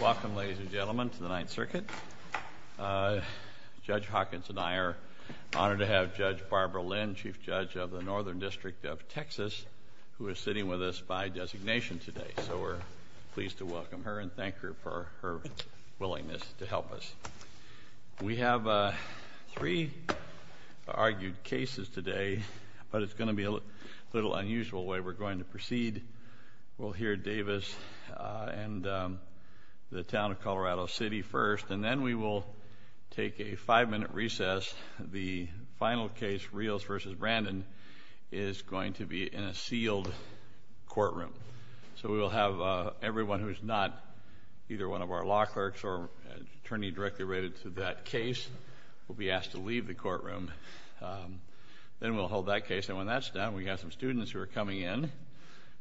Welcome, ladies and gentlemen, to the Ninth Circuit. Judge Hawkins and I are honored to have Judge Barbara Lynn, Chief Judge of the Northern District of Texas, who is sitting with us by designation today, so we're pleased to welcome her and thank her for her willingness to help us. We have three argued cases today, but it's going to be a little unusual the way we're going to proceed. We'll hear Davis and the town of Colorado City first, and then we will take a five-minute recess. The final case, Reals v. Brandon, is going to be in a sealed courtroom. So we will have everyone who is not either one of our law clerks or an attorney directly related to that case will be asked to leave the courtroom. Then we'll hold that case. And when that's done, we have some students who are coming in,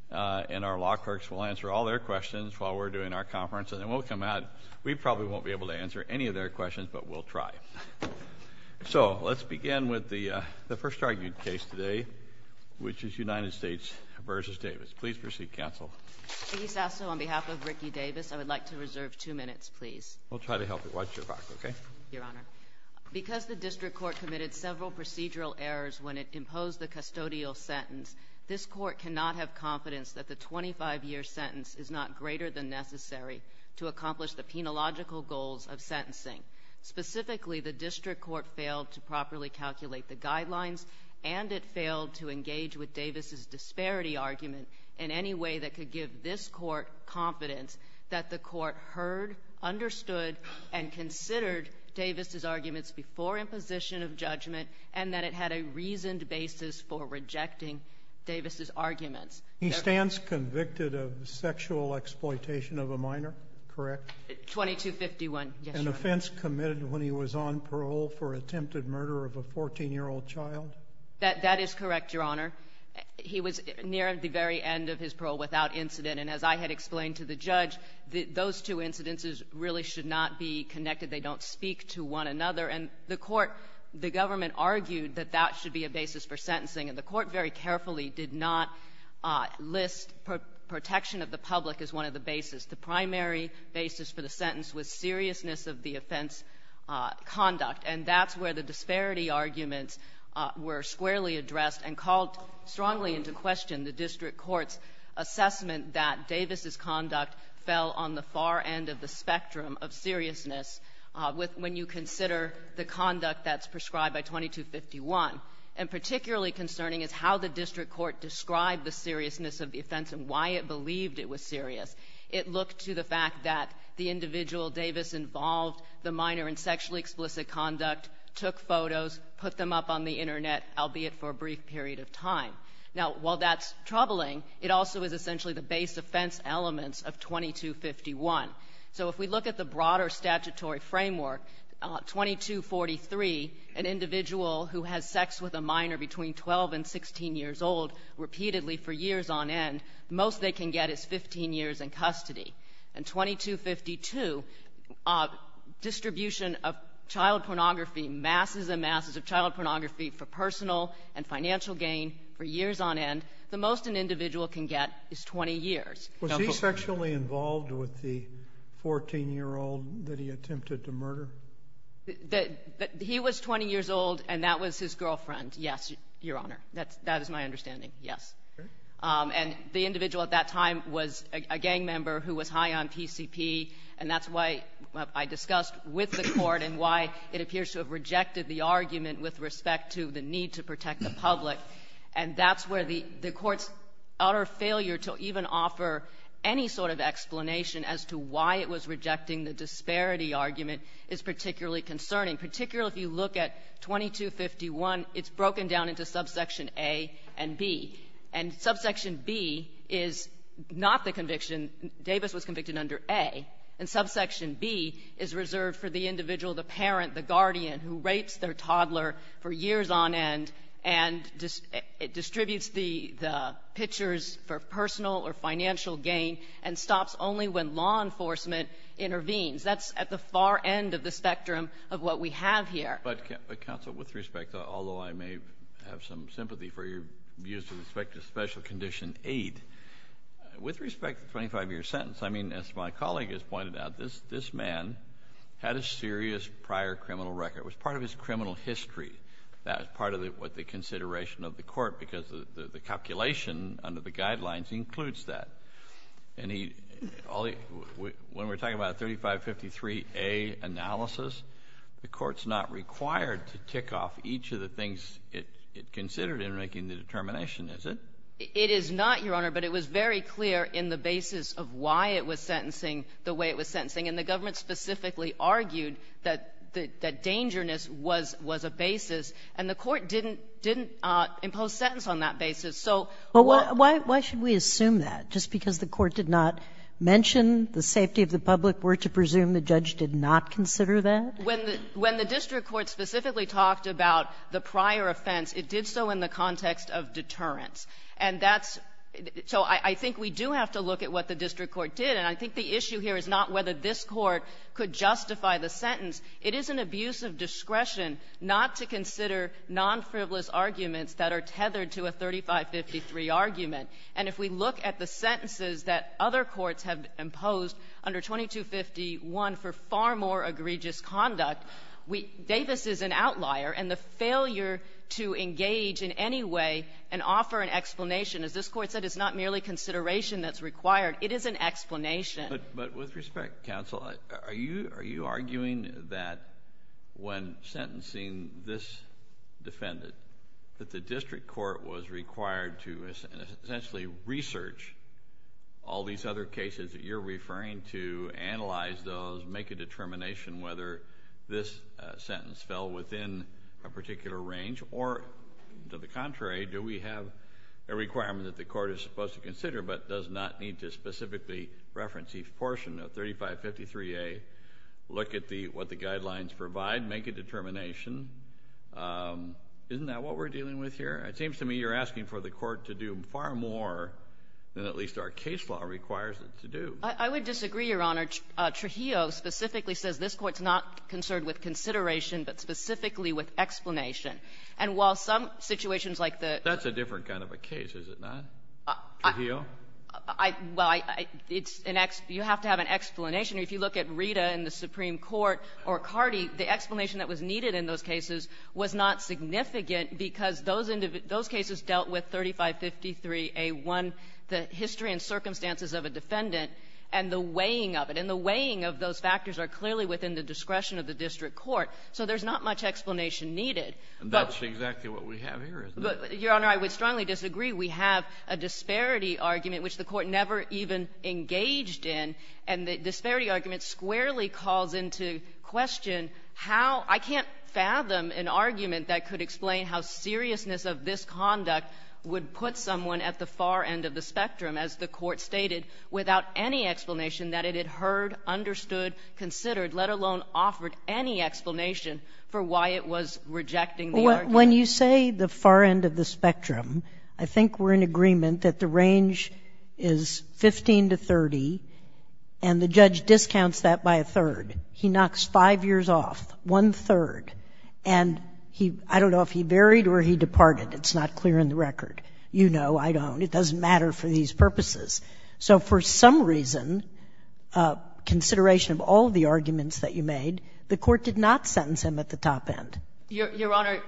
and our law clerks will answer all their questions while we're doing our conference, and then we'll come out. We probably won't be able to answer any of their questions, but we'll try. So let's begin with the first argued case today, which is United States v. Davis. Please proceed, counsel. Judge Hawkins V. Davis Mr. Sasso, on behalf of Ricky Davis, I would like to reserve two minutes, please. Judge Hawkins We'll try to help you. Watch your back, okay? Judge Sasso Your Honor, because the district court committed several procedural errors when it imposed the custodial sentence, this Court cannot have confidence that the 25-year sentence is not greater than necessary to accomplish the penological goals of sentencing. Specifically, the district court failed to properly calculate the guidelines, and it failed to engage with Davis's disparity argument in any way that could give this Court confidence that the Court heard, understood, and considered Davis's arguments before the imposition of judgment, and that it had a reasoned basis for rejecting Davis's arguments. Judge Sasso He stands convicted of sexual exploitation of a minor. Correct? Judge Hawkins 2251, yes, Your Honor. Judge Sasso An offense committed when he was on parole for attempted murder of a 14-year-old child? Judge Hawkins That is correct, Your Honor. He was near the very end of his parole without incident, and as I had explained to the judge, those two incidences really should not be connected. They don't speak to one another. And the Court, the government argued that that should be a basis for sentencing, and the Court very carefully did not list protection of the public as one of the basis. The primary basis for the sentence was seriousness of the offense conduct, and that's where the disparity arguments were squarely addressed and called strongly into question the district court's assessment that Davis's conduct fell on the far end of the spectrum of seriousness when you consider the conduct that's prescribed by 2251. And particularly concerning is how the district court described the seriousness of the offense and why it believed it was serious. It looked to the fact that the individual Davis involved, the minor in sexually explicit conduct took photos, put them up on the Internet, albeit for a brief period of time. Now while that's troubling, it also is essentially the base offense elements of 2251. So if we look at the broader statutory framework, 2243, an individual who has sex with a minor between 12 and 16 years old repeatedly for years on end, the most they can get is 15 years in custody. And 2252, distribution of child pornography, masses and masses of child pornography for personal and financial gain for years on end, the most an individual can get is 20 years. Was he sexually involved with the 14-year-old that he attempted to murder? He was 20 years old, and that was his girlfriend, yes, Your Honor. That is my understanding, yes. And the individual at that time was a gang member who was high on PCP, and that's why I discussed with the court and why it appears to have rejected the argument with respect to the need to protect the public. And that's where the court's utter failure to even offer any sort of explanation as to why it was rejecting the disparity argument is particularly concerning, particularly if you look at 2251. It's broken down into subsection A and B. And subsection B is not the conviction Davis was convicted under A. And subsection B is reserved for the individual, the parent, the guardian, who rapes their toddler for years on end and distributes the pictures for personal or financial gain and stops only when law enforcement intervenes. That's at the far end of the spectrum of what we have here. But, counsel, with respect, although I may have some sympathy for your views with respect to special condition aid, with respect to the 25-year sentence, I mean, as my colleague has pointed out, this man had a serious prior criminal record. It was part of his criminal history. That was part of the consideration of the court, because the calculation under the Guidelines includes that. And he — when we're talking about a 3553A analysis, the court's not required to tick off each of the things it considered in making the determination, is it? It is not, Your Honor, but it was very clear in the basis of why it was sentenced the way it was sentencing. And the government specifically argued that dangerousness was a basis, and the court didn't impose sentence on that basis. So why should we assume that, just because the court did not mention the safety of the public were to presume the judge did not consider that? When the district court specifically talked about the prior offense, it did so in the context of deterrence. And that's — so I think we do have to look at what the district court did, and I think the issue here is not whether this Court could justify the sentence. It is an abuse of discretion not to consider non-frivolous arguments that are tethered to a 3553 argument. And if we look at the sentences that other courts have imposed under 2251 for far more egregious conduct, we — Davis is an outlier, and the failure to engage in any way and offer an explanation, as this Court said, is not merely consideration that's required. It is an explanation. But with respect, counsel, are you arguing that when sentencing this defendant, that the district court was required to essentially research all these other cases that you're referring to, analyze those, make a determination whether this sentence fell within a particular range, or to the contrary, do we have a requirement that the plaintiff's chief portion of 3553A look at the — what the guidelines provide, make a determination? Isn't that what we're dealing with here? It seems to me you're asking for the Court to do far more than at least our case law requires it to do. I would disagree, Your Honor. Trujillo specifically says this Court's not concerned with consideration, but specifically with explanation. And while some situations like the — That's a different kind of a case, is it not, Trujillo? I — well, I — it's an — you have to have an explanation. If you look at Rita in the Supreme Court, or Cardi, the explanation that was needed in those cases was not significant because those cases dealt with 3553A1, the history and circumstances of a defendant, and the weighing of it. And the weighing of those factors are clearly within the discretion of the district court, so there's not much explanation needed. That's exactly what we have here, isn't it? Your Honor, I would strongly disagree. We have a disparity argument, which the Court never even engaged in, and the disparity argument squarely calls into question how — I can't fathom an argument that could explain how seriousness of this conduct would put someone at the far end of the spectrum, as the Court stated, without any explanation that it had heard, understood, considered, let alone offered any explanation for why it was rejecting the argument. When you say the far end of the spectrum, I think we're in agreement that the range is 15 to 30, and the judge discounts that by a third. He knocks 5 years off, one-third, and he — I don't know if he buried or he departed. It's not clear in the record. You know, I don't. It doesn't matter for these purposes. So for some reason, consideration of all of the arguments that you made, the Court did not sentence him at the top end. Your Honor,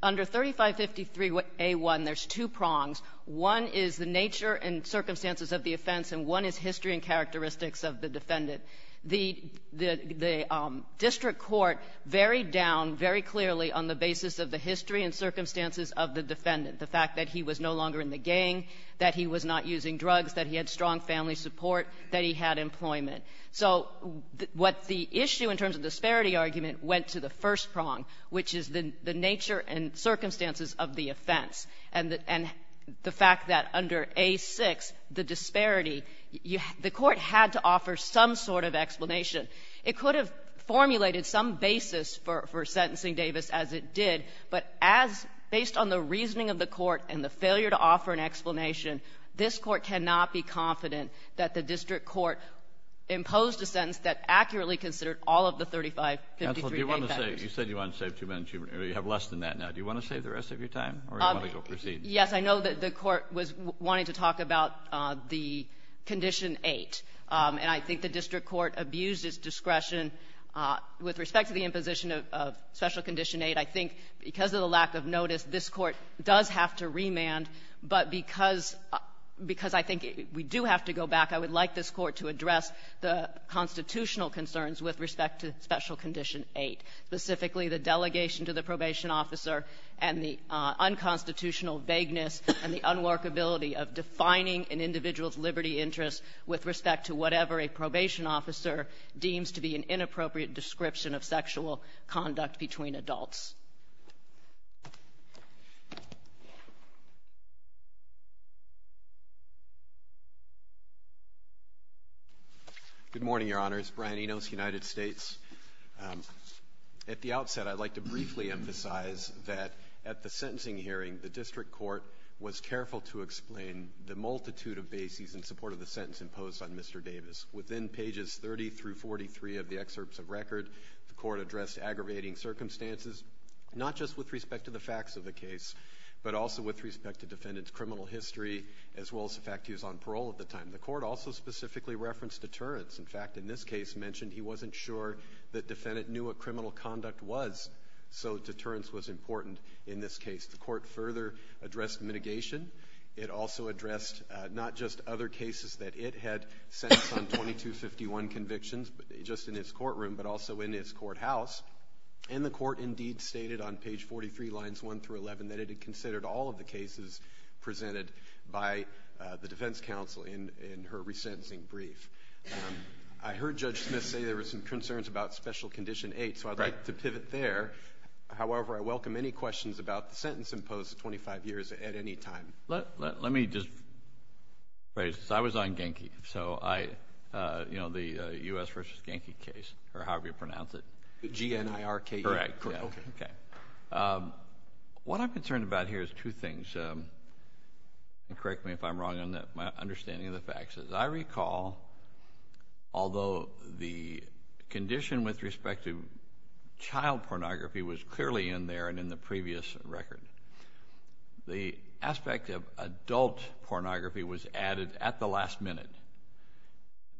under 3553a1, there's two prongs. One is the nature and circumstances of the offense, and one is history and characteristics of the defendant. The district court varied down very clearly on the basis of the history and circumstances of the defendant, the fact that he was no longer in the gang, that he was not using drugs, that he had strong family support, that he had employment. So what the issue in terms of disparity argument went to the first prong, which is the nature and circumstances of the offense, and the fact that under a6, the disparity — the Court had to offer some sort of explanation. It could have formulated some basis for sentencing Davis as it did, but as — based on the reasoning of the Court and the failure to offer an explanation, this Court cannot be confident that the district court imposed a sentence that accurately considered all of the 3553a vectors. Kennedy. You said you wanted to save two minutes. You have less than that now. Do you want to save the rest of your time, or do you want to go proceed? Yes. I know that the Court was wanting to talk about the Condition 8, and I think the district court abused its discretion. With respect to the imposition of Special Condition 8, I think because of the lack of notice, this Court does have to remand. But because — because I think we do have to go back, I would like this Court to address the constitutional concerns with respect to Special Condition 8, specifically the delegation to the probation officer and the unconstitutional vagueness and the unworkability of defining an individual's liberty interests with respect to whatever a probation officer deems to be an inappropriate description of sexual conduct between adults. Good morning, Your Honors. Brian Enos, United States. At the outset, I'd like to briefly emphasize that at the sentencing hearing, the district court was careful to explain the multitude of bases in support of the sentence imposed on Mr. Davis. Within pages 30 through 43 of the excerpts of record, the Court addressed aggravating circumstances, not just with respect to the facts of the case, but also with respect to defendants' criminal history, as well as the fact he was on parole at the time. The Court also specifically referenced deterrence. In fact, in this case mentioned he wasn't sure the defendant knew what criminal conduct was, so deterrence was important in this case. The Court further addressed mitigation. It also addressed not just other cases that it had sentenced on 2251 convictions, just in its courtroom, but also in its courthouse. And the Court indeed stated on page 43, lines 1 through 11, that it had considered all of the cases presented by the defense counsel in her resentencing brief. I heard Judge Smith say there were some concerns about Special Condition 8, so I'd like to pivot there. However, I welcome any questions about the sentence imposed 25 years at any time. Let me just phrase this. I was on Genki, so I, you know, the U.S. v. Genki case, or however you pronounce it. The G-N-I-R-K-E. Correct. Okay. Okay. What I'm concerned about here is two things, and correct me if I'm wrong on that, my understanding of the facts. As I recall, although the condition with respect to child pornography was clearly in there and in the previous record, the aspect of adult pornography was added at the last minute.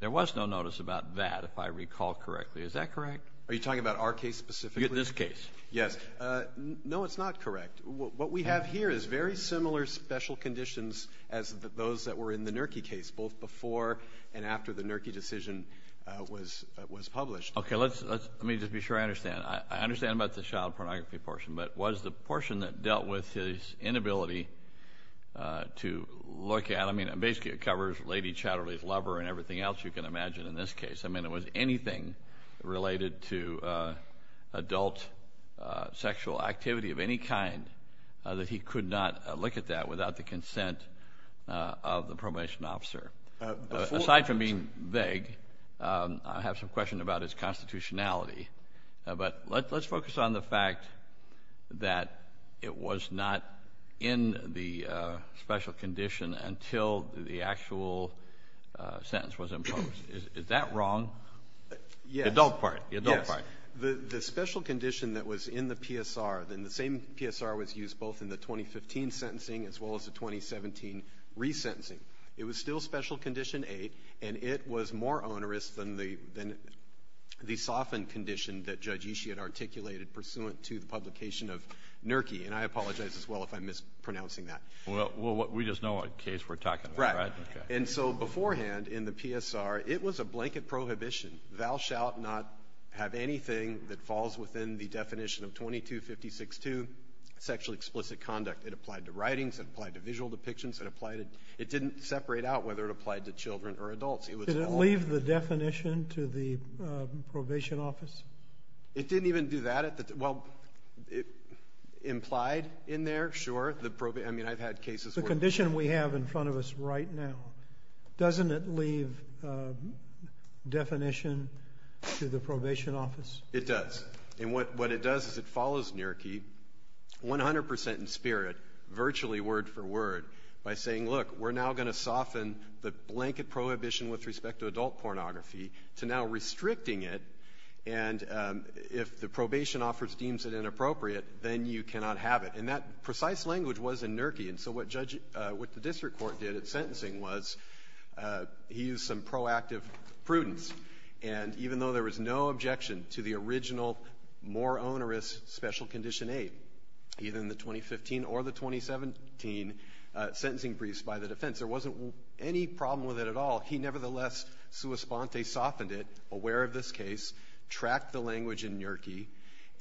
There was no notice about that, if I recall correctly. Is that correct? Are you talking about our case specifically? This case. Yes. No, it's not correct. What we have here is very similar special conditions as those that were in the NERCI case, both before and after the NERCI decision was published. Okay. Let me just be sure I understand. I understand about the child pornography portion, but was the portion that dealt with his inability to look at, I mean, basically it covers Lady Chatterley's lover and everything else you can imagine in this case. I mean, it was anything related to adult sexual activity of any kind that he could not look at that without the consent of the probation officer. Aside from being vague, I have some question about his constitutionality, but let's focus on the fact that it was not in the special condition until the actual sentence was imposed. Is that wrong? Yes. The adult part. The adult part. Yes. The special condition that was in the PSR, the same PSR was used both in the 2015 sentencing as well as the 2017 resentencing. It was still special condition A, and it was more onerous than the softened condition that Judge Ishii had articulated pursuant to the publication of NERCI, and I apologize as well if I'm mispronouncing that. Well, we just know what case we're talking about, right? Right. Okay. And so beforehand in the PSR, it was a blanket prohibition. Thou shalt not have anything that falls within the definition of 2256-2, sexual explicit conduct. It applied to writings. It applied to visual depictions. It didn't separate out whether it applied to children or adults. Did it leave the definition to the probation office? It didn't even do that at the... Well, it implied in there, sure, the... I mean, I've had cases where- The condition we have in front of us right now, doesn't it leave definition to the probation office? It does. And what it does is it follows NERCI 100% in spirit, virtually word for word, by saying, look, we're now going to soften the blanket prohibition with respect to adult pornography to now restricting it, and if the probation office deems it inappropriate, then you cannot have it. And that precise language was in NERCI, and so what the district court did at sentencing was he used some proactive prudence, and even though there was no objection to the original more onerous special condition eight, either in the 2015 or the 2017 sentencing briefs by the defense, there wasn't any problem with it at all. He nevertheless sua sponte softened it, aware of this case, tracked the language in NERCI,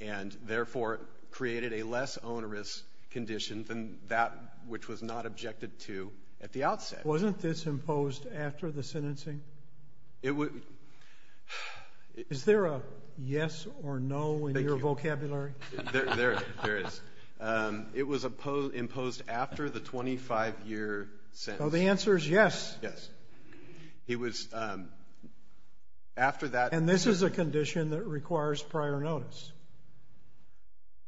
and therefore created a less onerous condition than that which was not objected to at the outset. Wasn't this imposed after the sentencing? It would... Is there a yes or no in your vocabulary? There is. It was imposed after the 25-year sentence. So the answer is yes. Yes. It was... after that- And this is a condition that requires prior notice.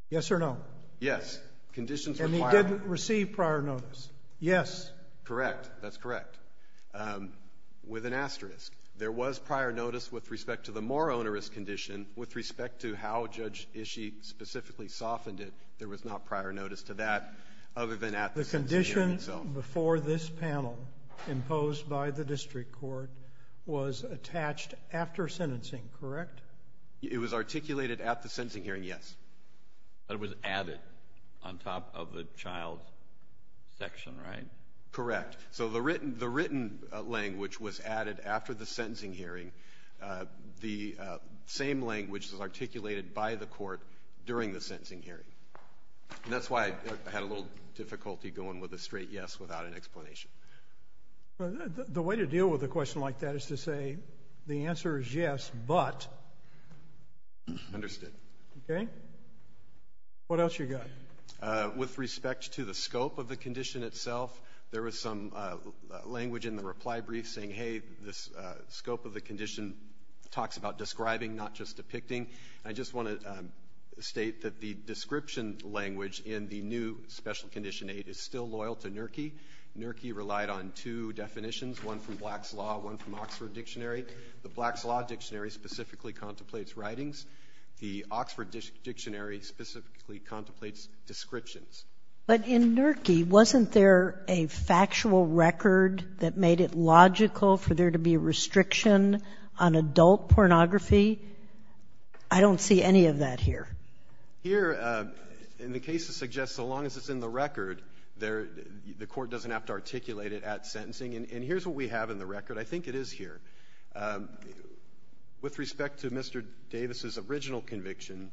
Yes or no? Yes. Conditions require- And he didn't receive prior notice. Yes. Correct. That's correct. With an asterisk. There was prior notice with respect to the more onerous condition, with respect to how the sentencing itself. The condition before this panel imposed by the district court was attached after sentencing, correct? It was articulated at the sentencing hearing, yes. But it was added on top of the child section, right? Correct. So the written language was added after the sentencing hearing. The same language was articulated by the court during the sentencing hearing. And that's why I had a little difficulty going with a straight yes without an explanation. The way to deal with a question like that is to say the answer is yes, but... Understood. Okay. What else you got? With respect to the scope of the condition itself, there was some language in the reply brief saying, hey, this scope of the condition talks about describing, not just depicting. I just want to state that the description language in the new special condition 8 is still loyal to NERCI. NERCI relied on two definitions, one from Black's Law, one from Oxford Dictionary. The Black's Law Dictionary specifically contemplates writings. The Oxford Dictionary specifically contemplates descriptions. But in NERCI, wasn't there a factual record that made it logical for there to be a restriction on adult pornography? I don't see any of that here. Here, the case suggests so long as it's in the record, the court doesn't have to articulate it at sentencing. And here's what we have in the record. I think it is here. With respect to Mr. Davis's original conviction,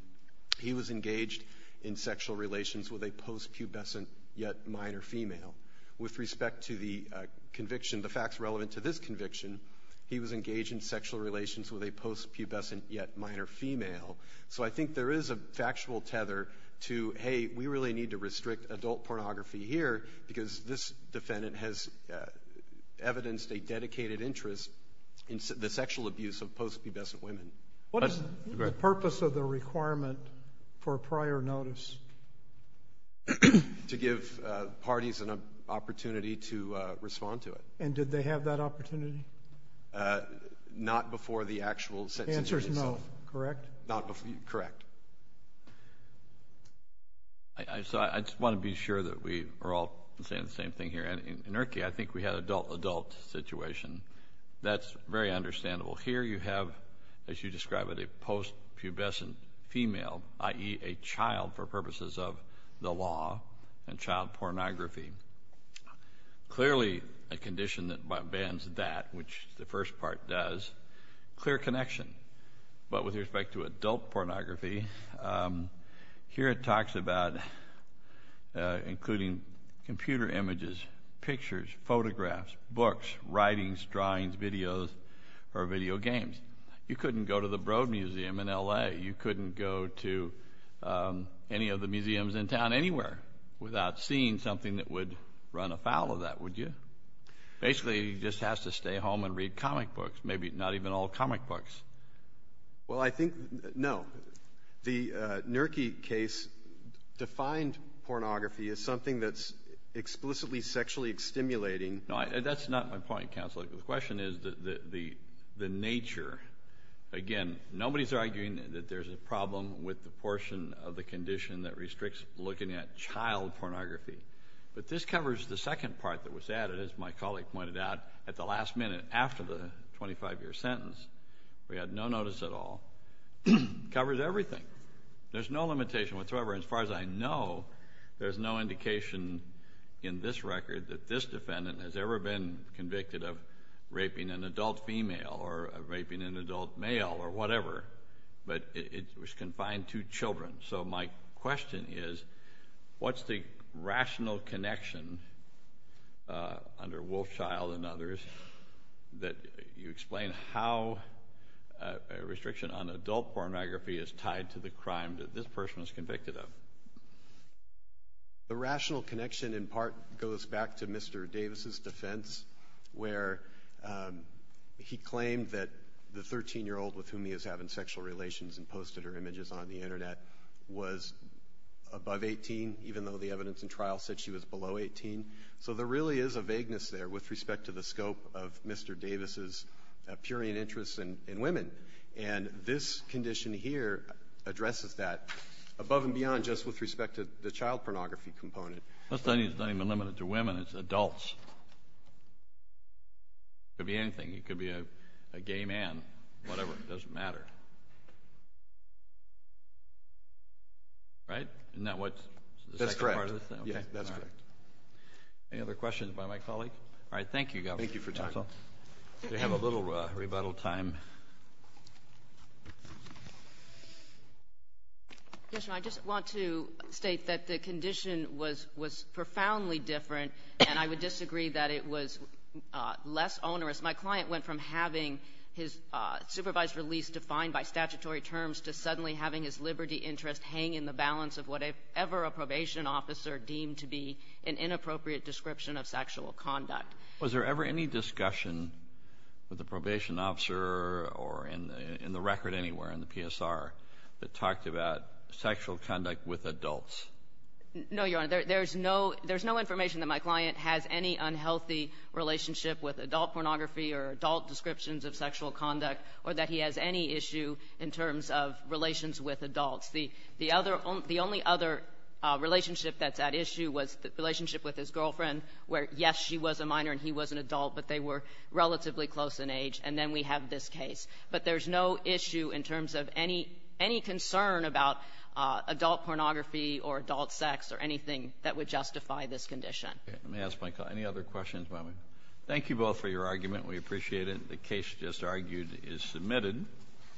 he was engaged in sexual relations with a post-pubescent yet minor female. With respect to the conviction, the facts relevant to this conviction, he was engaged in sexual relations with a post-pubescent yet minor female. So I think there is a factual tether to, hey, we really need to restrict adult pornography here because this defendant has evidenced a dedicated interest in the sexual abuse of post-pubescent women. What is the purpose of the requirement for prior notice? To give parties an opportunity to respond to it. And did they have that opportunity? Not before the actual sentencing itself. The answer is no. Correct? Correct. I just want to be sure that we are all saying the same thing here. In NERCI, I think we had an adult-adult situation. That's very understandable. Here you have, as you describe it, a post-pubescent female, i.e., a child for purposes of the law and child pornography. Clearly a condition that bans that, which the first part does. Clear connection. But with respect to adult pornography, here it talks about including computer images, pictures, photographs, books, writings, drawings, videos, or video games. You couldn't go to the Broad Museum in L.A. You couldn't go to any of the museums in town anywhere without seeing something that would run afoul of that, would you? Basically, you just have to stay home and read comic books, maybe not even all comic books. Well, I think, no. The NERCI case defined pornography as something that's explicitly sexually stimulating. No, that's not my point, Counselor. The question is the nature. Again, nobody's arguing that there's a problem with the portion of the condition that restricts looking at child pornography. But this covers the second part that was added, as my colleague pointed out, at the last minute after the 25-year sentence. We had no notice at all. It covers everything. There's no limitation whatsoever. As far as I know, there's no indication in this record that this defendant has ever been convicted of raping an adult female or raping an adult male or whatever. But it was confined to children. So my question is, what's the rational connection under Wolfchild and others that you explain how a restriction on adult pornography is tied to the crime that this person was convicted of? The rational connection, in part, goes back to Mr. Davis's defense, where he claimed that the 13-year-old with whom he was having sexual relations and posted her images on the Internet was above 18, even though the evidence in trial said she was below 18. So there really is a vagueness there with respect to the scope of Mr. Davis's appearing interest in women. And this condition here addresses that above and beyond just with respect to the child pornography component. That study is not even limited to women. It's adults. It could be anything. It could be a gay man, whatever. It doesn't matter. Right? Isn't that what the second part is? That's correct. Yeah, that's correct. Any other questions by my colleague? All right. Thank you, Governor. Thank you for your time. Counsel? We have a little rebuttal time. Yes, Your Honor. I just want to state that the condition was profoundly different, and I would disagree that it was less onerous. My client went from having his supervised release defined by statutory terms to suddenly having his liberty interest hang in the balance of whatever a probation officer deemed to be an inappropriate description of sexual conduct. Was there ever any discussion with the probation officer or in the record anywhere in the PSR that talked about sexual conduct with adults? No, Your Honor. There's no information that my client has any unhealthy relationship with adult pornography or adult descriptions of sexual conduct or that he has any issue in terms of relations with adults. The only other relationship that's at issue was the relationship with his girlfriend, where, yes, she was a minor and he was an adult, but they were relatively close in age. And then we have this case. But there's no issue in terms of any concern about adult pornography or adult sex or anything that would justify this condition. Okay. Let me ask my colleague. Any other questions by my colleague? Thank you both for your argument. We appreciate it. The case just argued is submitted.